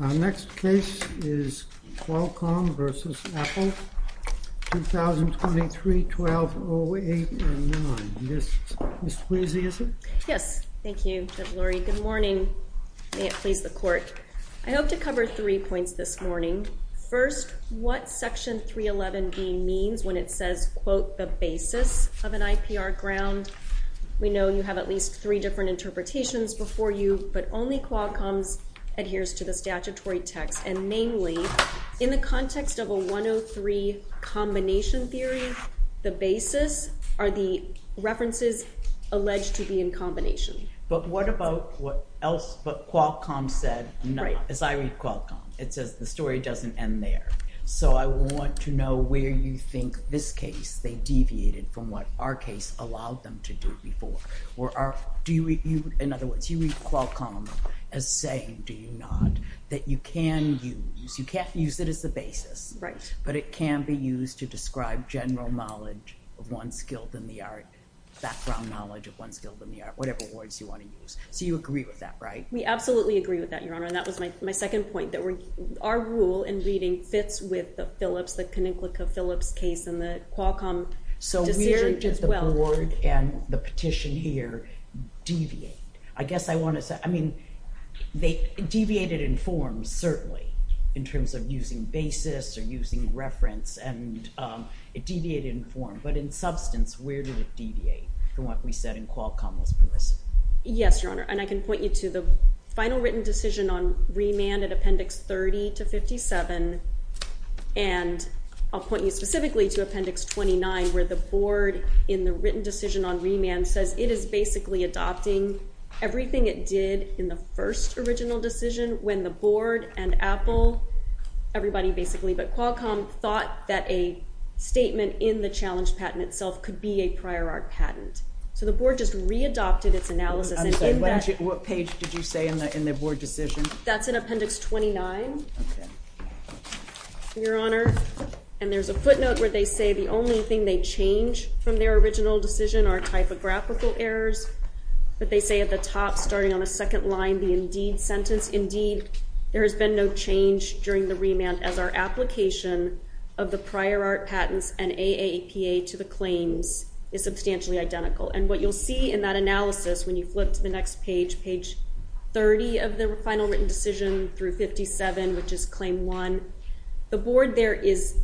Our next case is Qualcomm v. Apple, 2023-1208-09. Ms. Quasey, is it? Yes. Thank you, Judge Lurie. Good morning. May it please the Court. I hope to cover three points this morning. First, what Section 311B means when it says, quote, the basis of an IPR ground? We know you have at least three different interpretations before you, but only Qualcomm's adheres to the statutory text. And mainly, in the context of a 103 combination theory, the basis are the references alleged to be in combination. But what about what else? But Qualcomm said, as I read Qualcomm, it says the story doesn't end there. So I want to know where you think this case, they deviated from what our case allowed them to do before. In other words, you read Qualcomm as saying, do you not, that you can use, you can't use it as the basis, but it can be used to describe general knowledge of one's skill in the art, background knowledge of one's skill in the art, whatever words you want to use. So you agree with that, right? We absolutely agree with that, Your Honor. And that was my second point, that our rule in reading fits with the Phillips, the Conincklica-Phillips case and the Qualcomm. So where did the board and the petition here deviate? I guess I want to say, I mean, they deviated in form, certainly, in terms of using basis or using reference, and it deviated in form. But in substance, where did it deviate from what we said in Qualcomm was permissive? Yes, Your Honor. And I can point you to the final written decision on remand at Appendix 30 to 57. And I'll point you specifically to Appendix 29, where the board in the written decision on remand says it is basically adopting everything it did in the first original decision, when the board and Apple, everybody basically, but Qualcomm thought that a statement in the challenge patent itself could be a prior art patent. So the board just readopted its analysis. I'm sorry, what page did you say in the board decision? That's in Appendix 29, Your Honor. And there's a footnote where they say the only thing they change from their original decision are typographical errors. But they say at the top, starting on the second line, the indeed sentence, there has been no change during the remand as our application of the prior art patents and AAPA to the claims is substantially identical. And what you'll see in that analysis when you flip to the next page, page 30 of the final written decision through 57, which is Claim 1, the board there is,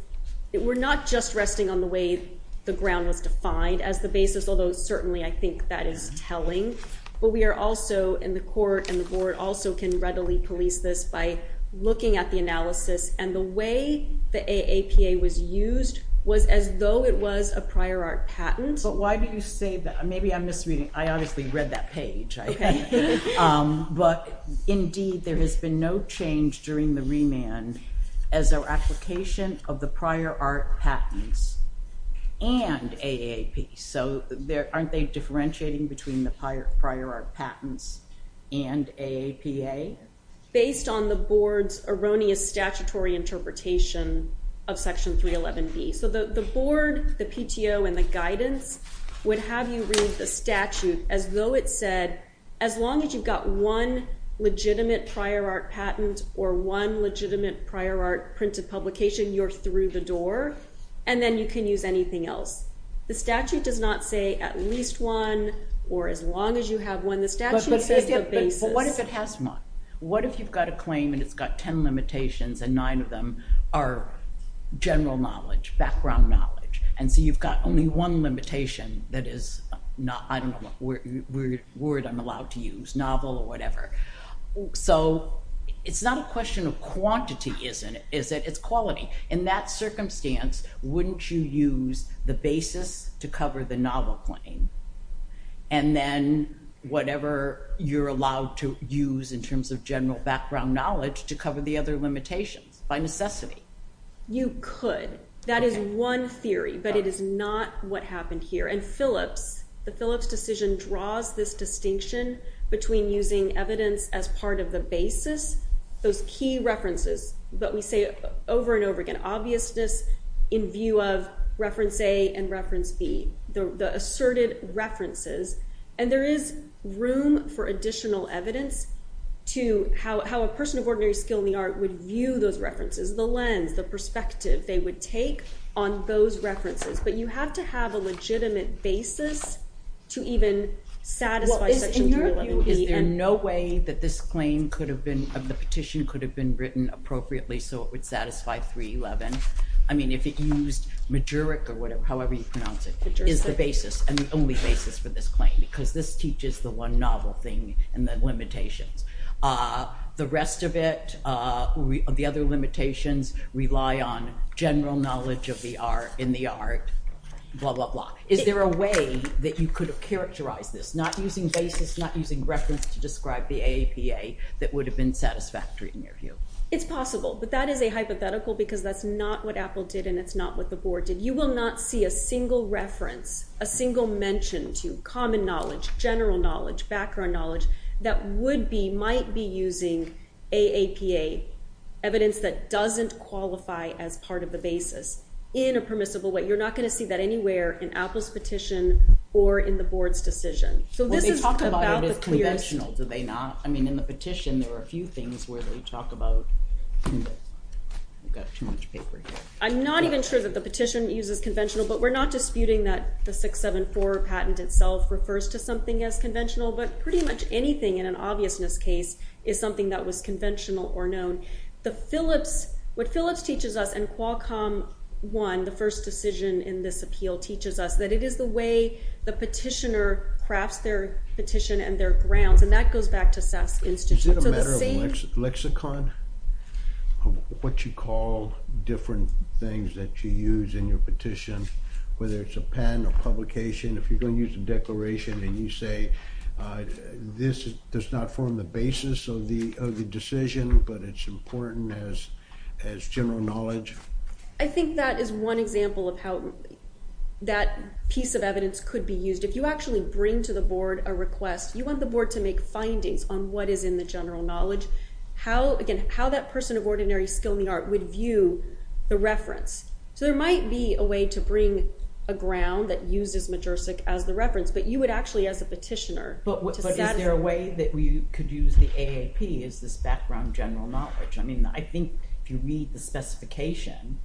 we're not just resting on the way the ground was defined as the basis, although certainly I think that is telling. But we are also in the court and the board also can readily police this by looking at the analysis. And the way the AAPA was used was as though it was a prior art patent. But why do you say that? Maybe I'm misreading. I obviously read that page. But indeed, there has been no change during the remand as our application of the prior art patents and AAP. So aren't they differentiating between the prior art patents and AAPA? Based on the board's erroneous statutory interpretation of Section 311B. So the board, the PTO, and the guidance would have you read the statute as though it said, as long as you've got one legitimate prior art patent or one legitimate prior art printed publication, you're through the door. And then you can use anything else. The statute does not say at least one or as long as you have one. The statute says the basis. But what if it has one? What if you've got a claim and it's got 10 limitations and nine of them are general knowledge, background knowledge? And so you've got only one limitation that is, I don't know what word I'm allowed to use, novel or whatever. So it's not a question of quantity, is it? It's quality. In that circumstance, wouldn't you use the basis to cover the novel claim? And then whatever you're allowed to use in terms of general background knowledge to cover the other limitations by necessity? You could. That is one theory, but it is not what happened here. And Phillips, the Phillips decision draws this distinction between using evidence as part of the basis. Those key references that we say over and over again, obviousness in view of reference A and reference B, the asserted references. And there is room for additional evidence to how a person of ordinary skill in the art would view those references, the lens, the perspective they would take on those references. But you have to have a legitimate basis to even satisfy Section 311B. Is there no way that this claim could have been, the petition could have been written appropriately so it would satisfy 311? I mean, if it used Majeric or whatever, however you pronounce it, is the basis and the only basis for this claim because this teaches the one novel thing and the limitations. The rest of it, the other limitations rely on general knowledge in the art, blah, blah, blah. Is there a way that you could have characterized this, not using basis, not using reference to describe the AAPA that would have been satisfactory in your view? It's possible, but that is a hypothetical because that's not what Apple did and it's not what the board did. You will not see a single reference, a single mention to common knowledge, general knowledge, background knowledge that would be, might be using AAPA, evidence that doesn't qualify as part of the basis in a permissible way. You're not going to see that anywhere in Apple's petition or in the board's decision. So this is about the clearest. Well, they talk about it as conventional, do they not? I mean, in the petition there were a few things where they talk about, we've got too much paper here. I'm not even sure that the petition uses conventional, but we're not disputing that the 674 patent itself refers to something as conventional, but pretty much anything in an obviousness case is something that was conventional or known. The Phillips, what Phillips teaches us and Qualcomm won the first decision in this appeal teaches us that it is the way the petitioner crafts their petition and their grounds and that goes back to SAS Institute. Is it a matter of lexicon of what you call different things that you use in your petition, whether it's a patent or publication, if you're going to use a declaration and you say this does not form the basis of the decision, but it's important as general knowledge? I think that is one example of how that piece of evidence could be used. If you actually bring to the board a request, you want the board to make findings on what is in the general knowledge. How, again, how that person of ordinary skill in the art would view the reference. So there might be a way to bring a ground that uses Majersik as the reference, but you would actually as a petitioner. But is there a way that we could use the AAP as this background general knowledge? I mean, I think if you read the specification,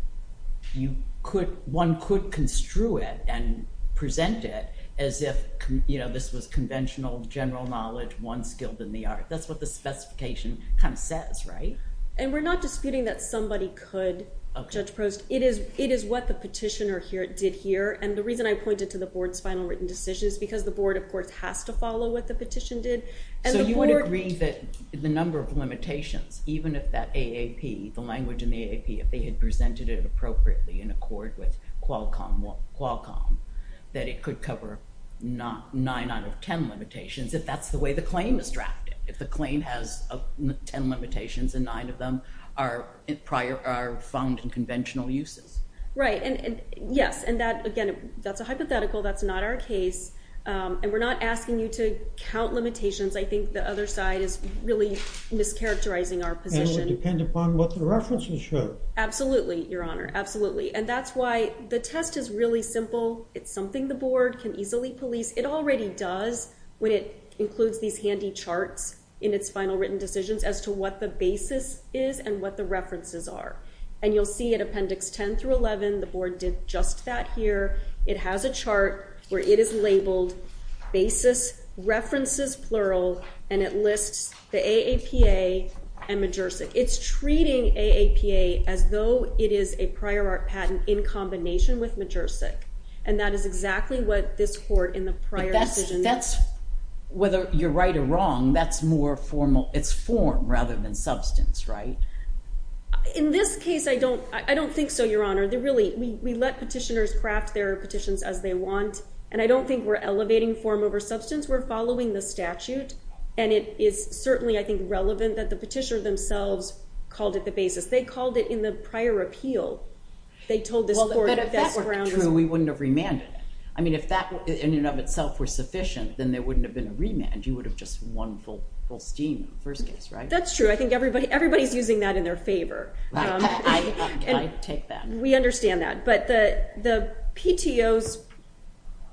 one could construe it and present it as if this was conventional general knowledge, one skilled in the art. That's what the specification kind of says, right? And we're not disputing that somebody could, Judge Prost. It is what the petitioner did here. And the reason I pointed to the board's final written decision is because the board, of course, has to follow what the petition did. So you would agree that the number of limitations, even if that AAP, the language in the AAP, if they had presented it appropriately in accord with Qualcomm, that it could cover nine out of ten limitations if that's the way the claim is drafted. If the claim has ten limitations and nine of them are found in conventional uses. Right, and yes, and that, again, that's a hypothetical. That's not our case. And we're not asking you to count limitations. I think the other side is really mischaracterizing our position. And it would depend upon what the references show. Absolutely, Your Honor. Absolutely. And that's why the test is really simple. It's something the board can easily police. It already does when it includes these handy charts in its final written decisions as to what the basis is and what the references are. And you'll see at Appendix 10 through 11, the board did just that here. It has a chart where it is labeled basis, references plural, and it lists the AAPA and Majersic. It's treating AAPA as though it is a prior art patent in combination with Majersic. And that is exactly what this court in the prior decision did. That's whether you're right or wrong, that's more formal. It's form rather than substance, right? In this case, I don't think so, Your Honor. We let petitioners craft their petitions as they want. And I don't think we're elevating form over substance. We're following the statute. And it is certainly, I think, relevant that the petitioner themselves called it the basis. They called it in the prior appeal. They told this court that this ground was— But if that were true, we wouldn't have remanded it. I mean, if that in and of itself were sufficient, then there wouldn't have been a remand. You would have just won full steam in the first case, right? That's true. I think everybody's using that in their favor. I take that. We understand that. But the PTO's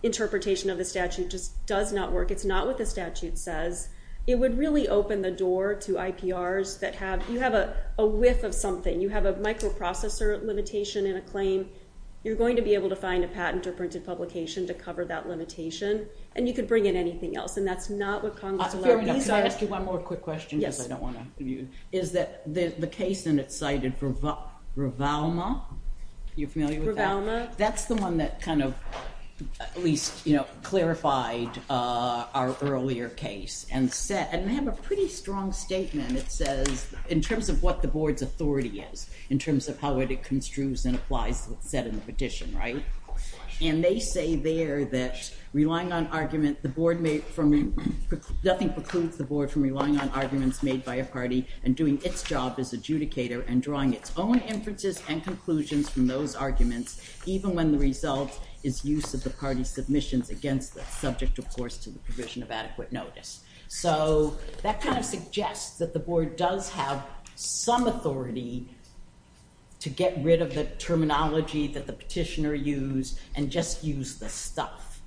interpretation of the statute just does not work. It's not what the statute says. It would really open the door to IPRs that have—you have a whiff of something. You have a microprocessor limitation in a claim. You're going to be able to find a patent or printed publication to cover that limitation. And you could bring in anything else. And that's not what Congress allowed. Your Honor, can I ask you one more quick question? Yes. I don't want to—is that the case in it cited Ravalma. You're familiar with that? That's the one that kind of at least, you know, clarified our earlier case. And they have a pretty strong statement. It says, in terms of what the board's authority is, in terms of how it construes and applies to what's said in the petition, right? And they say there that relying on argument, the board may—nothing precludes the board from relying on arguments made by a party and doing its job as adjudicator and drawing its own inferences and conclusions from those arguments, even when the result is use of the party's submissions against them, subject, of course, to the provision of adequate notice. So that kind of suggests that the board does have some authority to get rid of the terminology that the petitioner used and just use the stuff,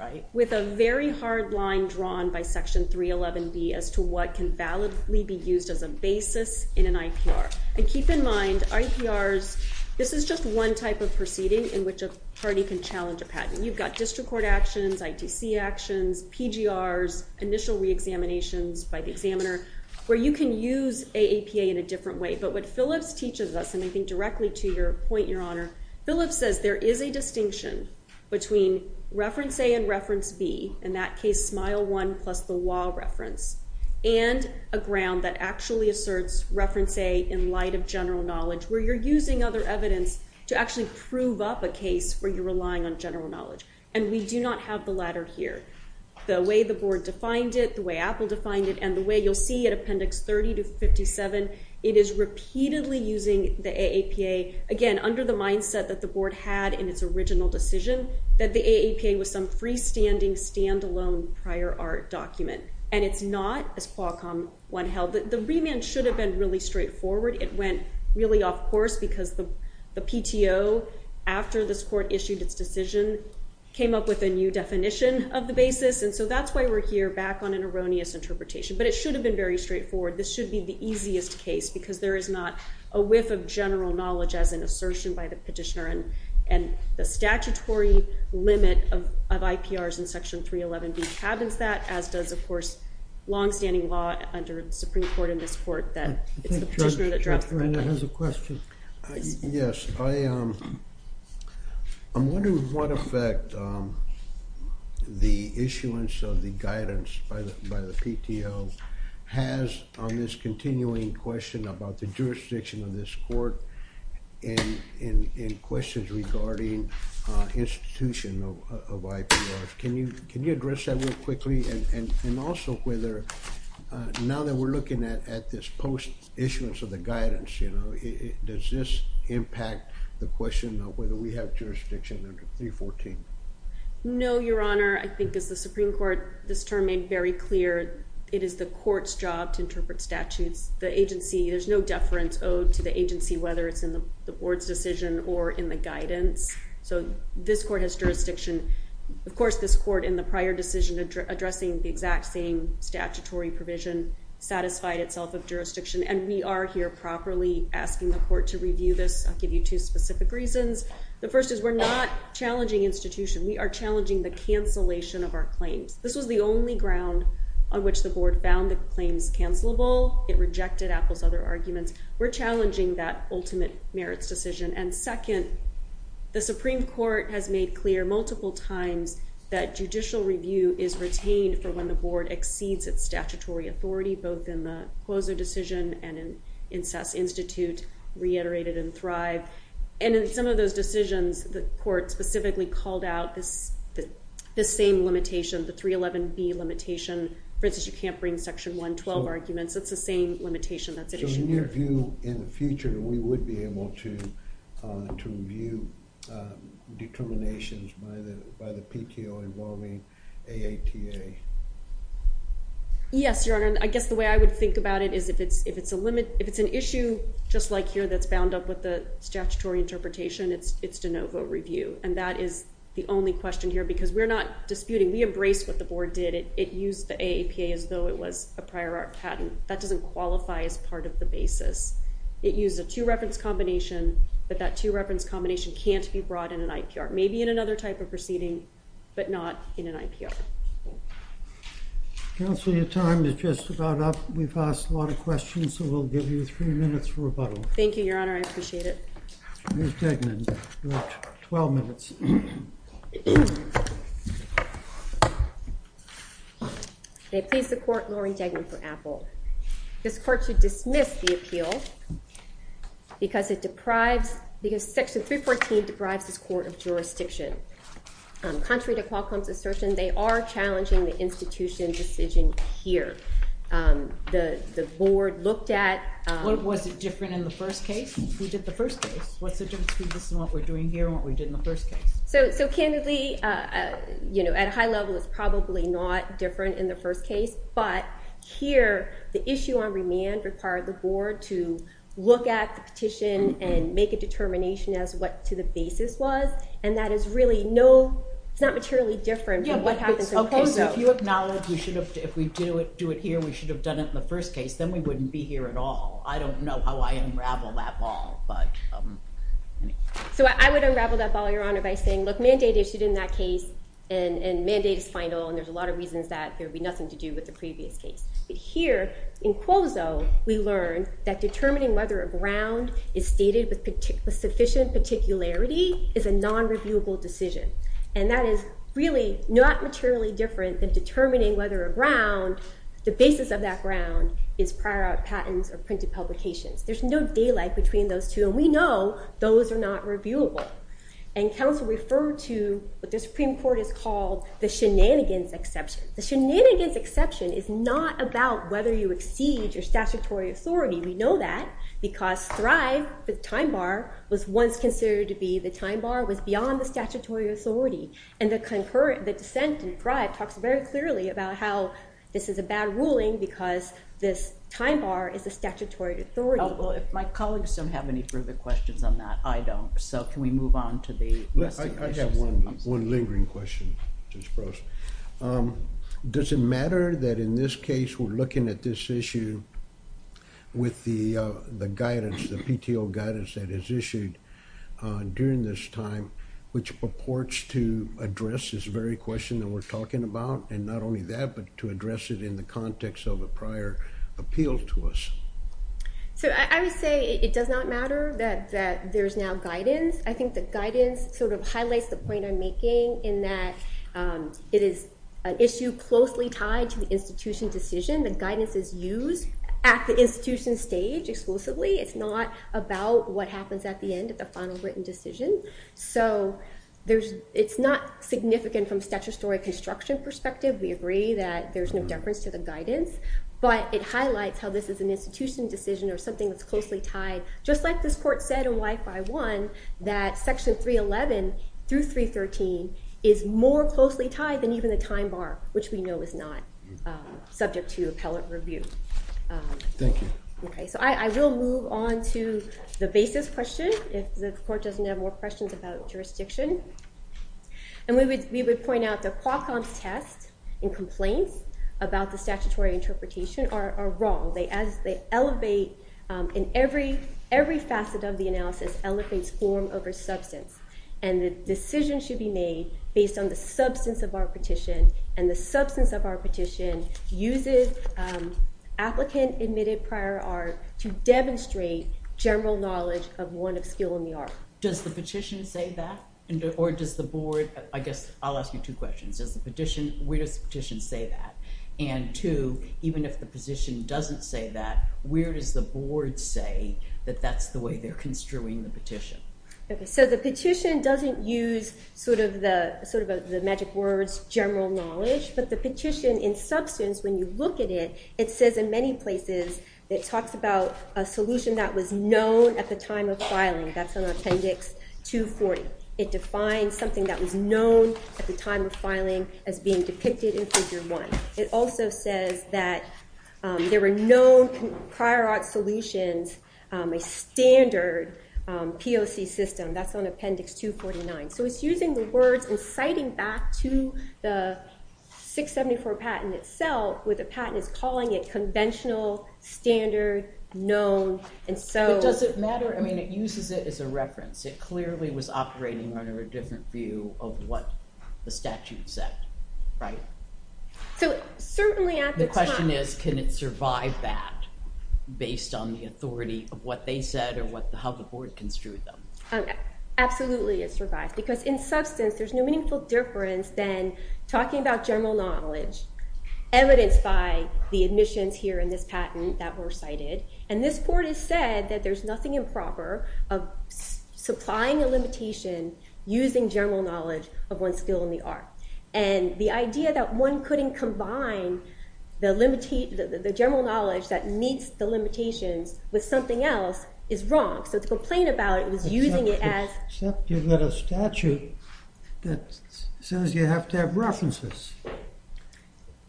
right? With a very hard line drawn by Section 311B as to what can validly be used as a basis in an IPR. And keep in mind, IPRs—this is just one type of proceeding in which a party can challenge a patent. You've got district court actions, ITC actions, PGRs, initial reexaminations by the examiner, where you can use a APA in a different way. But what Phillips teaches us, and I think directly to your point, Your Honor, Phillips says there is a distinction between reference A and reference B, in that case, SMILE 1 plus the WA reference, and a ground that actually asserts reference A in light of general knowledge, where you're using other evidence to actually prove up a case where you're relying on general knowledge. And we do not have the latter here. The way the board defined it, the way Apple defined it, and the way you'll see at Appendix 30 to 57, it is repeatedly using the AAPA. Again, under the mindset that the board had in its original decision, that the AAPA was some freestanding, standalone, prior art document. And it's not, as Qualcomm one held, that the remand should have been really straightforward. It went really off course because the PTO, after this court issued its decision, came up with a new definition of the basis. And so that's why we're here, back on an erroneous interpretation. But it should have been very straightforward. This should be the easiest case, because there is not a whiff of general knowledge as an assertion by the petitioner. And the statutory limit of IPRs in Section 311B cabins that, as does, of course, longstanding law under the Supreme Court in this court that it's the petitioner that drives the remand. Judge Reina has a question. Yes. I'm wondering what effect the issuance of the guidance by the PTO has on this continuing question about the jurisdiction of this court and questions regarding institution of IPRs. Can you address that real quickly? And also, now that we're looking at this post-issuance of the guidance, does this impact the question of whether we have jurisdiction under 314? No, Your Honor. I think, as the Supreme Court this term made very clear, it is the court's job to interpret statutes. The agency, there's no deference owed to the agency, whether it's in the board's decision or in the guidance. So this court has jurisdiction. Of course, this court, in the prior decision addressing the exact same statutory provision, satisfied itself of jurisdiction. And we are here properly asking the court to review this. I'll give you two specific reasons. The first is we're not challenging institution. We are challenging the cancellation of our claims. This was the only ground on which the board found the claims cancelable. It rejected Apple's other arguments. We're challenging that ultimate merits decision. And second, the Supreme Court has made clear multiple times that judicial review is retained for when the board exceeds its statutory authority, both in the Quoso decision and in Sass Institute reiterated in Thrive. And in some of those decisions, the court specifically called out this same limitation, the 311B limitation. For instance, you can't bring Section 112 arguments. It's the same limitation that's issued there. So in your view, in the future, we would be able to review determinations by the PTO involving AAPA? Yes, Your Honor. I guess the way I would think about it is if it's an issue just like here that's bound up with the statutory interpretation, it's de novo review. And that is the only question here because we're not disputing. We embrace what the board did. It used the AAPA as though it was a prior art patent. That doesn't qualify as part of the basis. It used a two-reference combination, but that two-reference combination can't be brought in an IPR, maybe in another type of proceeding, but not in an IPR. Counsel, your time is just about up. We've asked a lot of questions, so we'll give you three minutes for rebuttal. Thank you, Your Honor. I appreciate it. Ms. Tegman, you have 12 minutes. May it please the Court, Laurie Tegman for Apple. This Court should dismiss the appeal because it deprives, because Section 314 deprives this court of jurisdiction. Contrary to Qualcomm's assertion, they are challenging the institution decision here. The board looked at- Was it different in the first case? We did the first case. What's the difference between this and what we're doing here and what we did in the first case? So, candidly, at a high level, it's probably not different in the first case, but here, the issue on remand required the board to look at the petition and make a determination as to what the basis was, and that is really no, it's not materially different from what happens in COSO. Okay, so if you acknowledge we should have, if we do it here, we should have done it in the first case, then we wouldn't be here at all. I don't know how I unravel that ball, but- So, I would unravel that ball, Your Honor, by saying, look, mandate issued in that case, and mandate is final, and there's a lot of reasons that there would be nothing to do with the previous case. But here, in COSO, we learned that determining whether a ground is stated with sufficient particularity is a non-reviewable decision, and that is really not materially different than determining whether a ground, the basis of that ground is prior art patents or printed publications. There's no daylight between those two, and we know those are not reviewable, and counsel referred to what the Supreme Court has called the shenanigans exception. The shenanigans exception is not about whether you exceed your statutory authority. We know that because Thrive, the time bar, was once considered to be the time bar was beyond the statutory authority, and the dissent in Thrive talks very clearly about how this is a bad ruling because this time bar is a statutory authority. Well, if my colleagues don't have any further questions on that, I don't. So, can we move on to the rest of the questions? I have one lingering question, Judge Gross. Does it matter that in this case, we're looking at this issue with the guidance, the PTO guidance that is issued during this time, which purports to address this very question that we're talking about, and not only that, but to address it in the context of a prior appeal to us? So, I would say it does not matter that there's now guidance. I think the guidance sort of highlights the point I'm making in that it is an issue closely tied to the institution decision. The guidance is used at the institution stage exclusively. It's not about what happens at the end of the final written decision. So, it's not significant from a statutory construction perspective. We agree that there's no deference to the guidance. But it highlights how this is an institution decision or something that's closely tied, just like this Court said in Y5-1 that Section 311 through 313 is more closely tied than even the time bar, which we know is not subject to appellate review. Thank you. Okay, so I will move on to the basis question, if the Court doesn't have more questions about jurisdiction. And we would point out that Qualcomm's test and complaints about the statutory interpretation are wrong. They elevate in every facet of the analysis elevates form over substance. And the decision should be made based on the substance of our petition, and the substance of our petition uses applicant-admitted prior art to demonstrate general knowledge of one of skill in the art. Does the petition say that, or does the Board? I guess I'll ask you two questions. Does the petition, where does the petition say that? And two, even if the petition doesn't say that, where does the Board say that that's the way they're construing the petition? Okay, so the petition doesn't use sort of the magic words, general knowledge. But the petition in substance, when you look at it, it says in many places, it talks about a solution that was known at the time of filing. That's on Appendix 240. It defines something that was known at the time of filing as being depicted in Figure 1. It also says that there were no prior art solutions, a standard POC system. That's on Appendix 249. So it's using the words and citing back to the 674 patent itself, where the patent is calling it conventional, standard, known, and so. But does it matter? I mean, it uses it as a reference. It clearly was operating under a different view of what the statute said, right? So certainly at the time. The question is, can it survive that based on the authority of what they said or how the Board construed them? Absolutely, it survives. Because in substance, there's no meaningful difference than talking about general knowledge, evidenced by the admissions here in this patent that were cited. And this Board has said that there's nothing improper of supplying a limitation using general knowledge of one's skill in the art. And the idea that one couldn't combine the general knowledge that meets the limitations with something else is wrong. So to complain about it, it was using it as. Except you've got a statute that says you have to have references.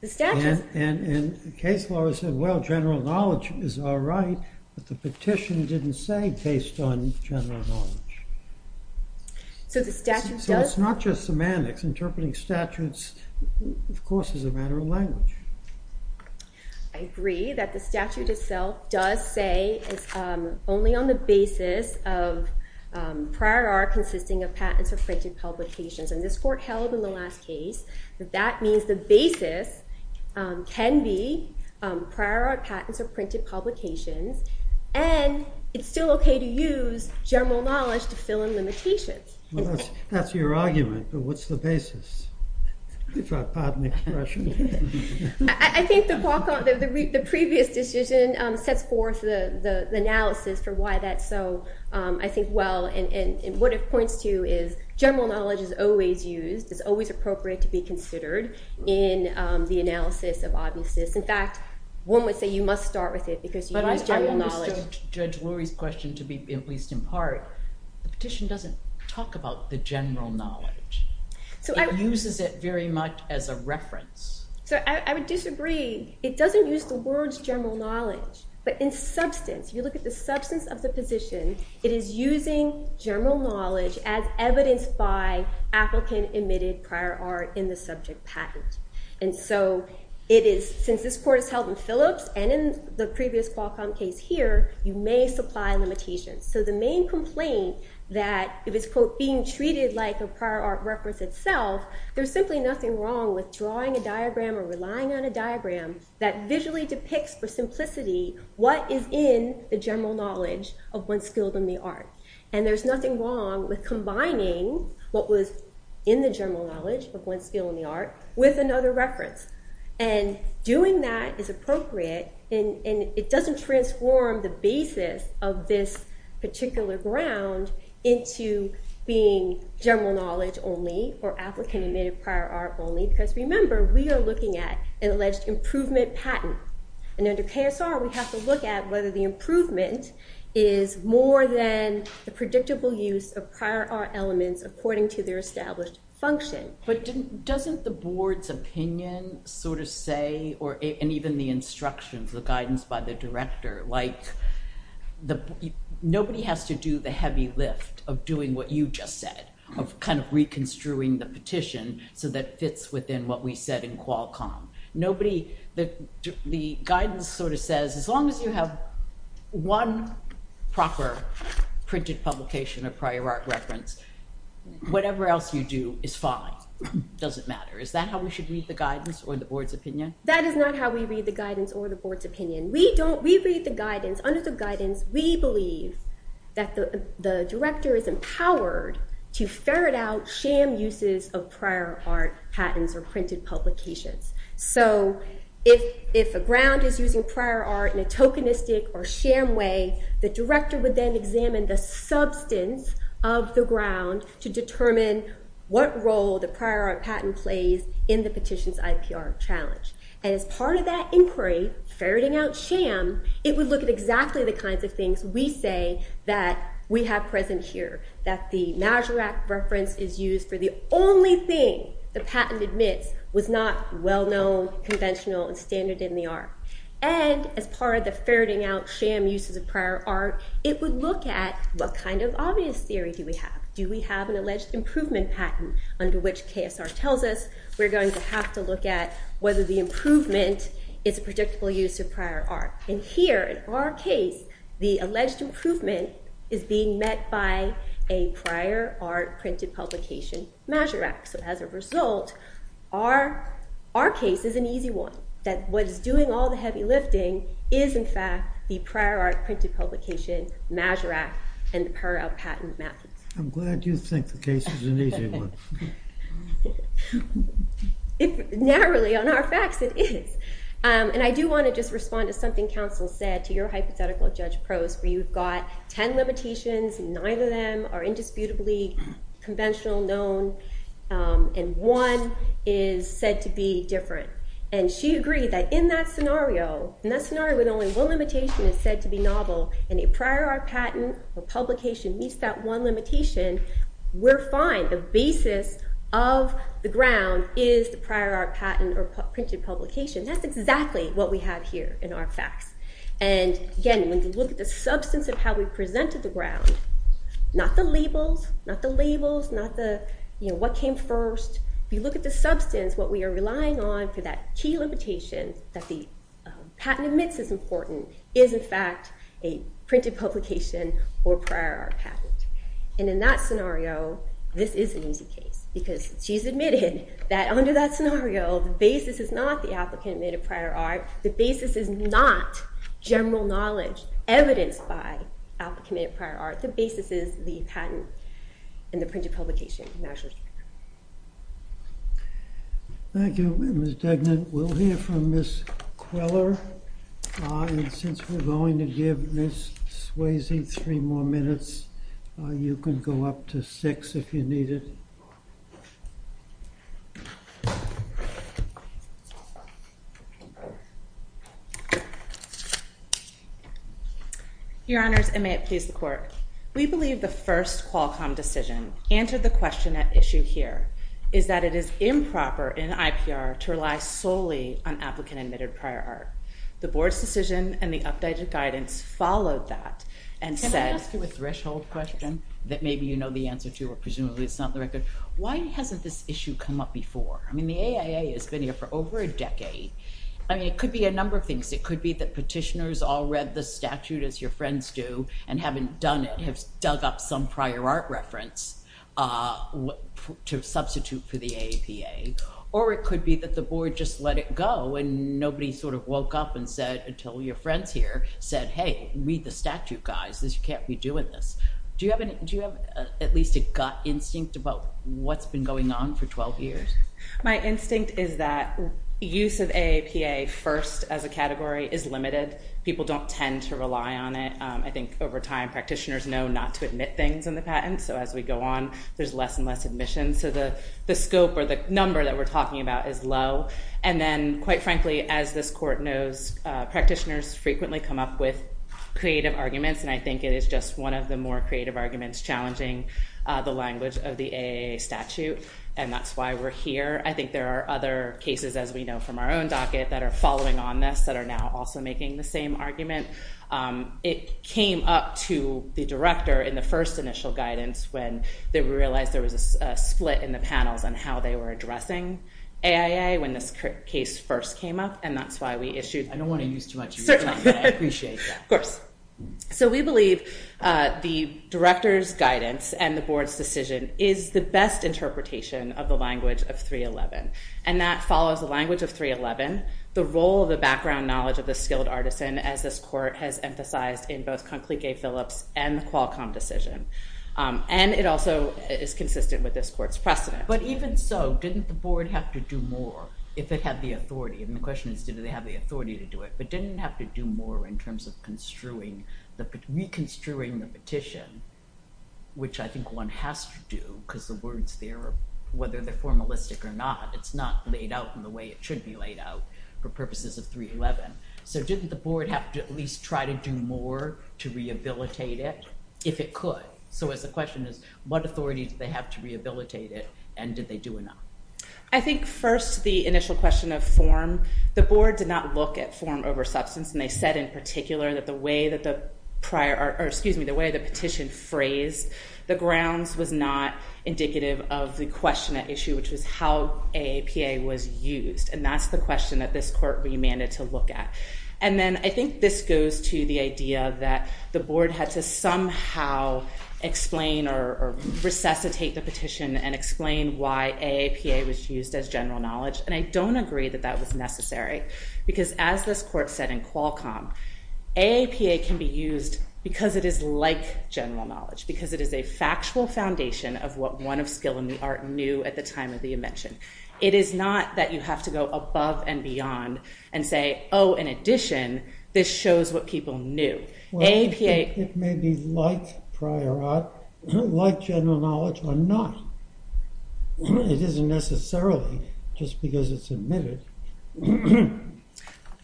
The statute. And the case law said, well, general knowledge is all right. But the petition didn't say based on general knowledge. So the statute does. So it's not just semantics. Interpreting statutes, of course, is a matter of language. I agree that the statute itself does say it's only on the basis of prior art consisting of patents or printed publications. And this Court held in the last case that that means the basis can be prior art patents or printed publications. And it's still OK to use general knowledge to fill in limitations. That's your argument. But what's the basis? If I pardon the expression. I think the previous decision sets forth the analysis for why that's so, I think, well. And what it points to is general knowledge is always used. It's always appropriate to be considered in the analysis of obviousness. In fact, one would say you must start with it because you use general knowledge. But I understood Judge Lurie's question to be, at least in part, the petition doesn't talk about the general knowledge. It uses it very much as a reference. So I would disagree. It doesn't use the words general knowledge. But in substance, you look at the substance of the petition, it is using general knowledge as evidenced by applicant-admitted prior art in the subject patent. And so it is, since this Court has held in Phillips and in the previous Qualcomm case here, you may supply limitations. So the main complaint that if it's, quote, being treated like a prior art reference itself, there's simply nothing wrong with drawing a diagram or relying on a diagram that visually depicts for simplicity what is in the general knowledge of one skilled in the art. And there's nothing wrong with combining what was in the general knowledge of one skilled in the art with another reference. And doing that is appropriate, and it doesn't transform the basis of this particular ground into being general knowledge only or applicant-admitted prior art only. Because remember, we are looking at an alleged improvement patent. And under KSR, we have to look at whether the improvement is more than the predictable use of prior art elements according to their established function. But doesn't the Board's opinion sort of say, and even the instructions, the guidance by the Director, like, nobody has to do the heavy lift of doing what you just said, of kind of reconstruing the petition so that it fits within what we said in Qualcomm. The guidance sort of says, as long as you have one proper printed publication of prior art reference, whatever else you do is fine. It doesn't matter. Is that how we should read the guidance or the Board's opinion? That is not how we read the guidance or the Board's opinion. We read the guidance. Under the guidance, we believe that the Director is empowered to ferret out sham uses of prior art patents or printed publications. So if a ground is using prior art in a tokenistic or sham way, the Director would then examine the substance of the ground to determine what role the prior art patent plays in the petition's IPR challenge. And as part of that inquiry, ferreting out sham, it would look at exactly the kinds of things we say that we have present here, that the Maserat reference is used for the only thing the patent admits was not well-known, conventional, and standard in the art. And as part of the ferreting out sham uses of prior art, it would look at what kind of obvious theory do we have? Do we have an alleged improvement patent under which KSR tells us we're going to have to look at whether the improvement is a predictable use of prior art? And here, in our case, the alleged improvement is being met by a prior art printed publication Maserat. So as a result, our case is an easy one, that what is doing all the heavy lifting is, in fact, the prior art printed publication Maserat and the per-art patent methods. I'm glad you think the case is an easy one. Narrowly, on our facts, it is. And I do want to just respond to something counsel said to your hypothetical, Judge Prost, where you've got 10 limitations, and nine of them are indisputably conventional, known, and one is said to be different. And she agreed that in that scenario, in that scenario when only one limitation is said to be novel, and a prior art patent or publication meets that one limitation, we're fine. The basis of the ground is the prior art patent or printed publication. That's exactly what we have here in our facts. And again, when you look at the substance of how we presented the ground, not the labels, not the labels, not the, you know, what came first. If you look at the substance, what we are relying on for that key limitation that the patent admits is important is, in fact, a printed publication or prior art patent. And in that scenario, this is an easy case, because she's admitted that under that scenario, the basis is not the applicant made a prior art. The basis is not general knowledge evidenced by applicant prior art. The basis is the patent and the printed publication measures. Thank you, Ms. Degnan. We'll hear from Ms. Queller. And since we're going to give Ms. Swayze three more minutes, you can go up to six if you need it. Your Honors, and may it please the Court. We believe the first Qualcomm decision answered the question at issue here is that it is improper in IPR to rely solely on applicant-admitted prior art. The Board's decision and the updated guidance followed that and said... Can I ask you a threshold question that maybe you know the answer to or presumably it's not the record? Why hasn't this issue come up before? I mean, the AIA has been here for over a decade. I mean, it could be a number of things. It could be that petitioners all read the statute as your friends do and haven't done it, have dug up some prior art reference to substitute for the AAPA. Or it could be that the Board just let it go and nobody sort of woke up and said, until your friends here said, hey, read the statute, guys. You can't be doing this. Do you have at least a gut instinct about what's been going on for 12 years? My instinct is that use of AAPA first as a category is limited. People don't tend to rely on it. I think over time practitioners know not to admit things in the patent. So as we go on, there's less and less admissions. So the scope or the number that we're talking about is low. And then, quite frankly, as this Court knows, practitioners frequently come up with creative arguments. And I think it is just one of the more creative arguments challenging the language of the AIA statute. And that's why we're here. I think there are other cases, as we know from our own docket, that are following on this, that are now also making the same argument. It came up to the Director in the first initial guidance when they realized there was a split in the panels on how they were addressing AIA when this case first came up. And that's why we issued... I don't want to use too much of your time, but I appreciate that. Of course. So we believe the Director's guidance and the Board's decision is the best interpretation of the language of 311. And that follows the language of 311, the role of the background knowledge of the skilled artisan, as this Court has emphasized in both Conclique Phillips and the Qualcomm decision. And it also is consistent with this Court's precedent. But even so, didn't the Board have to do more if it had the authority? And the question is, did they have the authority to do it? But didn't it have to do more in terms of reconstruing the petition, which I think one has to do because the words there, whether they're formalistic or not, it's not laid out in the way it should be laid out for purposes of 311. So didn't the Board have to at least try to do more to rehabilitate it if it could? So the question is, what authority did they have to rehabilitate it, and did they do enough? I think first the initial question of form, the Board did not look at form over substance, and they said in particular that the way that the petition phrased the grounds was not indicative of the question at issue, which was how AAPA was used. And that's the question that this Court remanded to look at. And then I think this goes to the idea that the Board had to somehow explain or resuscitate the petition and explain why AAPA was used as general knowledge. And I don't agree that that was necessary, because as this Court said in Qualcomm, AAPA can be used because it is like general knowledge, because it is a factual foundation of what one of skill in the art knew at the time of the invention. It is not that you have to go above and beyond and say, oh, in addition, this shows what people knew. It may be like prior art, like general knowledge, or not. It isn't necessarily just because it's admitted.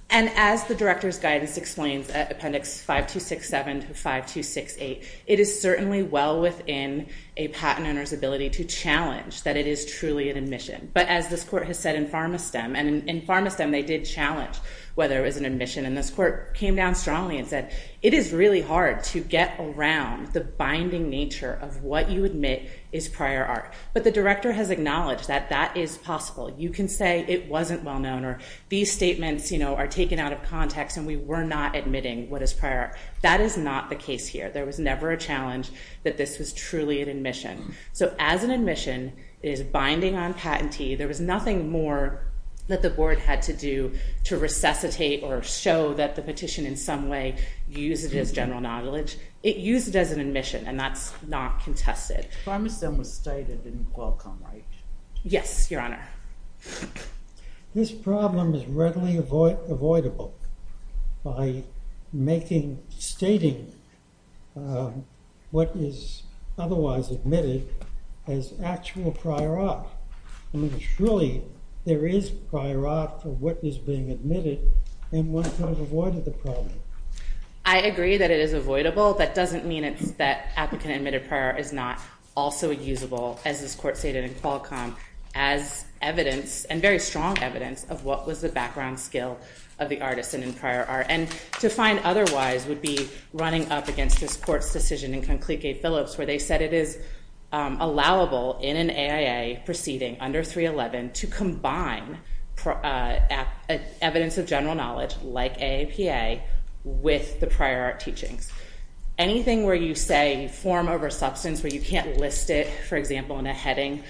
And as the Director's Guidance explains at Appendix 5267 to 5268, it is certainly well within a patent owner's ability to challenge that it is truly an admission. But as this Court has said in PharmaSTEM, and in PharmaSTEM they did challenge whether it was an admission, and this Court came down strongly and said it is really hard to get around the binding nature of what you admit is prior art. But the Director has acknowledged that that is possible. You can say it wasn't well known or these statements are taken out of context and we were not admitting what is prior art. That is not the case here. There was never a challenge that this was truly an admission. So as an admission, it is binding on patentee. There was nothing more that the Board had to do to resuscitate or show that the petition in some way used it as general knowledge. It used it as an admission, and that's not contested. PharmaSTEM was stated in Qualcomm, right? Yes, Your Honor. This problem is readily avoidable by stating what is otherwise admitted as actual prior art. I mean, surely there is prior art to what is being admitted, and one could have avoided the problem. I agree that it is avoidable. That doesn't mean that applicant-admitted prior art is not also usable, as this Court stated in Qualcomm, as evidence, and very strong evidence, of what was the background skill of the artist in prior art. And to find otherwise would be running up against this Court's decision in Conclique Phillips, where they said it is allowable in an AIA proceeding under 311 to combine evidence of general knowledge, like AAPA, with the prior art teachings. Anything where you say form over substance, where you can't list it, for example, in a heading,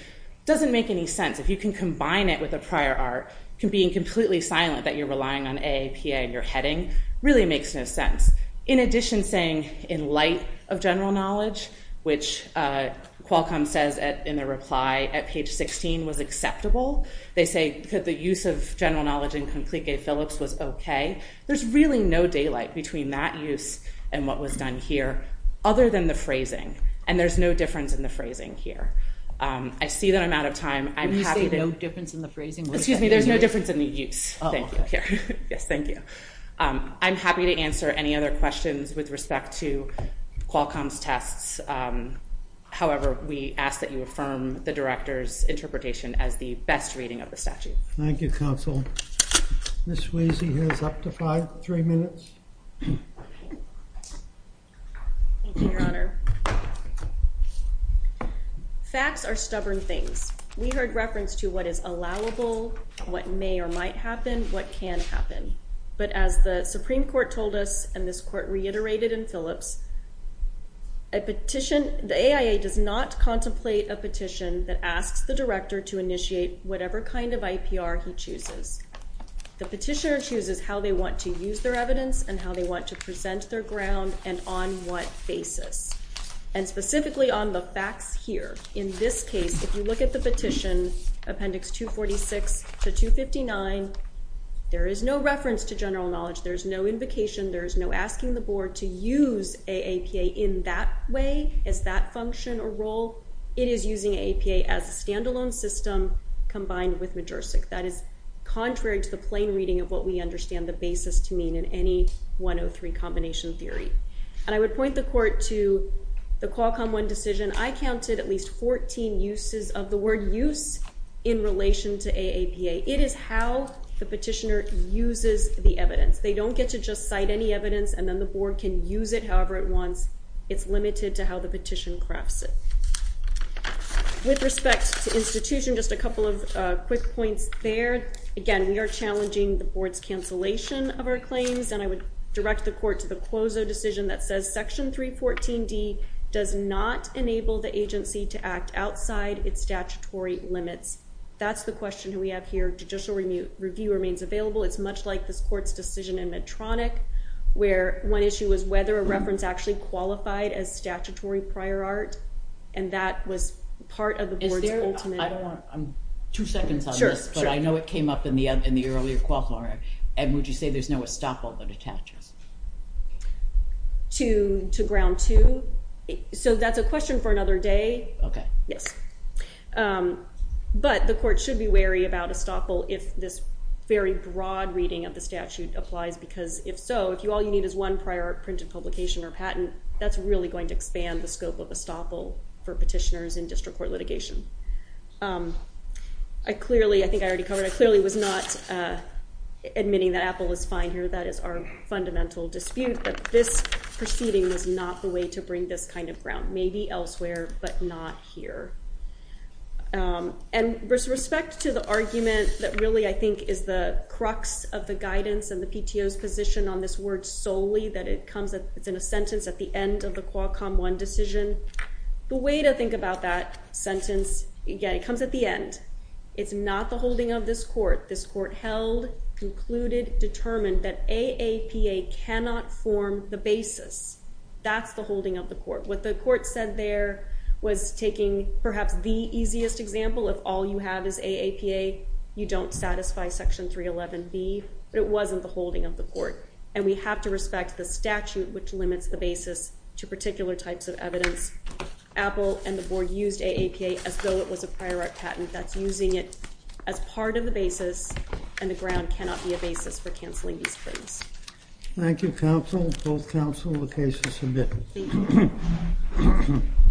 doesn't make any sense. If you can combine it with a prior art, being completely silent that you're relying on AAPA in your heading really makes no sense. In addition, saying in light of general knowledge, which Qualcomm says in their reply at page 16 was acceptable. They say that the use of general knowledge in Conclique Phillips was okay. There's really no daylight between that use and what was done here, other than the phrasing, and there's no difference in the phrasing here. I see that I'm out of time. Can you say no difference in the phrasing? Excuse me, there's no difference in the use. Oh, okay. Yes, thank you. I'm happy to answer any other questions with respect to Qualcomm's tests. However, we ask that you affirm the Director's interpretation as the best reading of the statute. Thank you, Counsel. Ms. Wiese has up to five, three minutes. Thank you, Your Honor. Facts are stubborn things. We heard reference to what is allowable, what may or might happen, what can happen. But as the Supreme Court told us, and this Court reiterated in Phillips, the AIA does not contemplate a petition that asks the Director to initiate whatever kind of IPR he chooses. The petitioner chooses how they want to use their evidence and how they want to present their ground and on what basis. And specifically on the facts here, in this case, if you look at the petition, Appendix 246 to 259, there is no reference to general knowledge. There's no invocation. There's no asking the Board to use AAPA in that way, as that function or role. It is using AAPA as a standalone system combined with Majorsic. That is contrary to the plain reading of what we understand the basis to mean in any 103 combination theory. And I would point the Court to the Qualcomm 1 decision. I counted at least 14 uses of the word use in relation to AAPA. It is how the petitioner uses the evidence. They don't get to just cite any evidence and then the Board can use it however it wants. It's limited to how the petition crafts it. With respect to institution, just a couple of quick points there. Again, we are challenging the Board's cancellation of our claims. And I would direct the Court to the Quozo decision that says Section 314D does not enable the agency to act outside its statutory limits. That's the question we have here. Judicial review remains available. It's much like this Court's decision in Medtronic where one issue was whether a reference actually qualified as statutory prior art. And that was part of the Board's ultimate... Two seconds on this, but I know it came up in the earlier Qualcomm. And would you say there's no estoppel that attaches? To Ground 2? So that's a question for another day. Okay. Yes. But the Court should be wary about estoppel if this very broad reading of the statute applies. Because if so, if all you need is one prior art printed publication or patent, that's really going to expand the scope of estoppel for petitioners in district court litigation. I clearly, I think I already covered, I clearly was not admitting that Apple is fine here. That is our fundamental dispute. But this proceeding was not the way to bring this kind of ground. Maybe elsewhere, but not here. And with respect to the argument that really, I think, is the crux of the guidance and the PTO's position on this word solely, that it comes, it's in a sentence at the end of the Qualcomm 1 decision. The way to think about that sentence, again, it comes at the end. It's not the holding of this Court. This Court held, concluded, determined that AAPA cannot form the basis. That's the holding of the Court. What the Court said there was taking perhaps the easiest example. If all you have is AAPA, you don't satisfy Section 311B. But it wasn't the holding of the Court. And we have to respect the statute which limits the basis to particular types of evidence. Apple and the Board used AAPA as though it was a prior art patent. That's using it as part of the basis, and the ground cannot be a basis for canceling these claims. Thank you, Counsel. Both Counsel, the case is submitted. Thank you.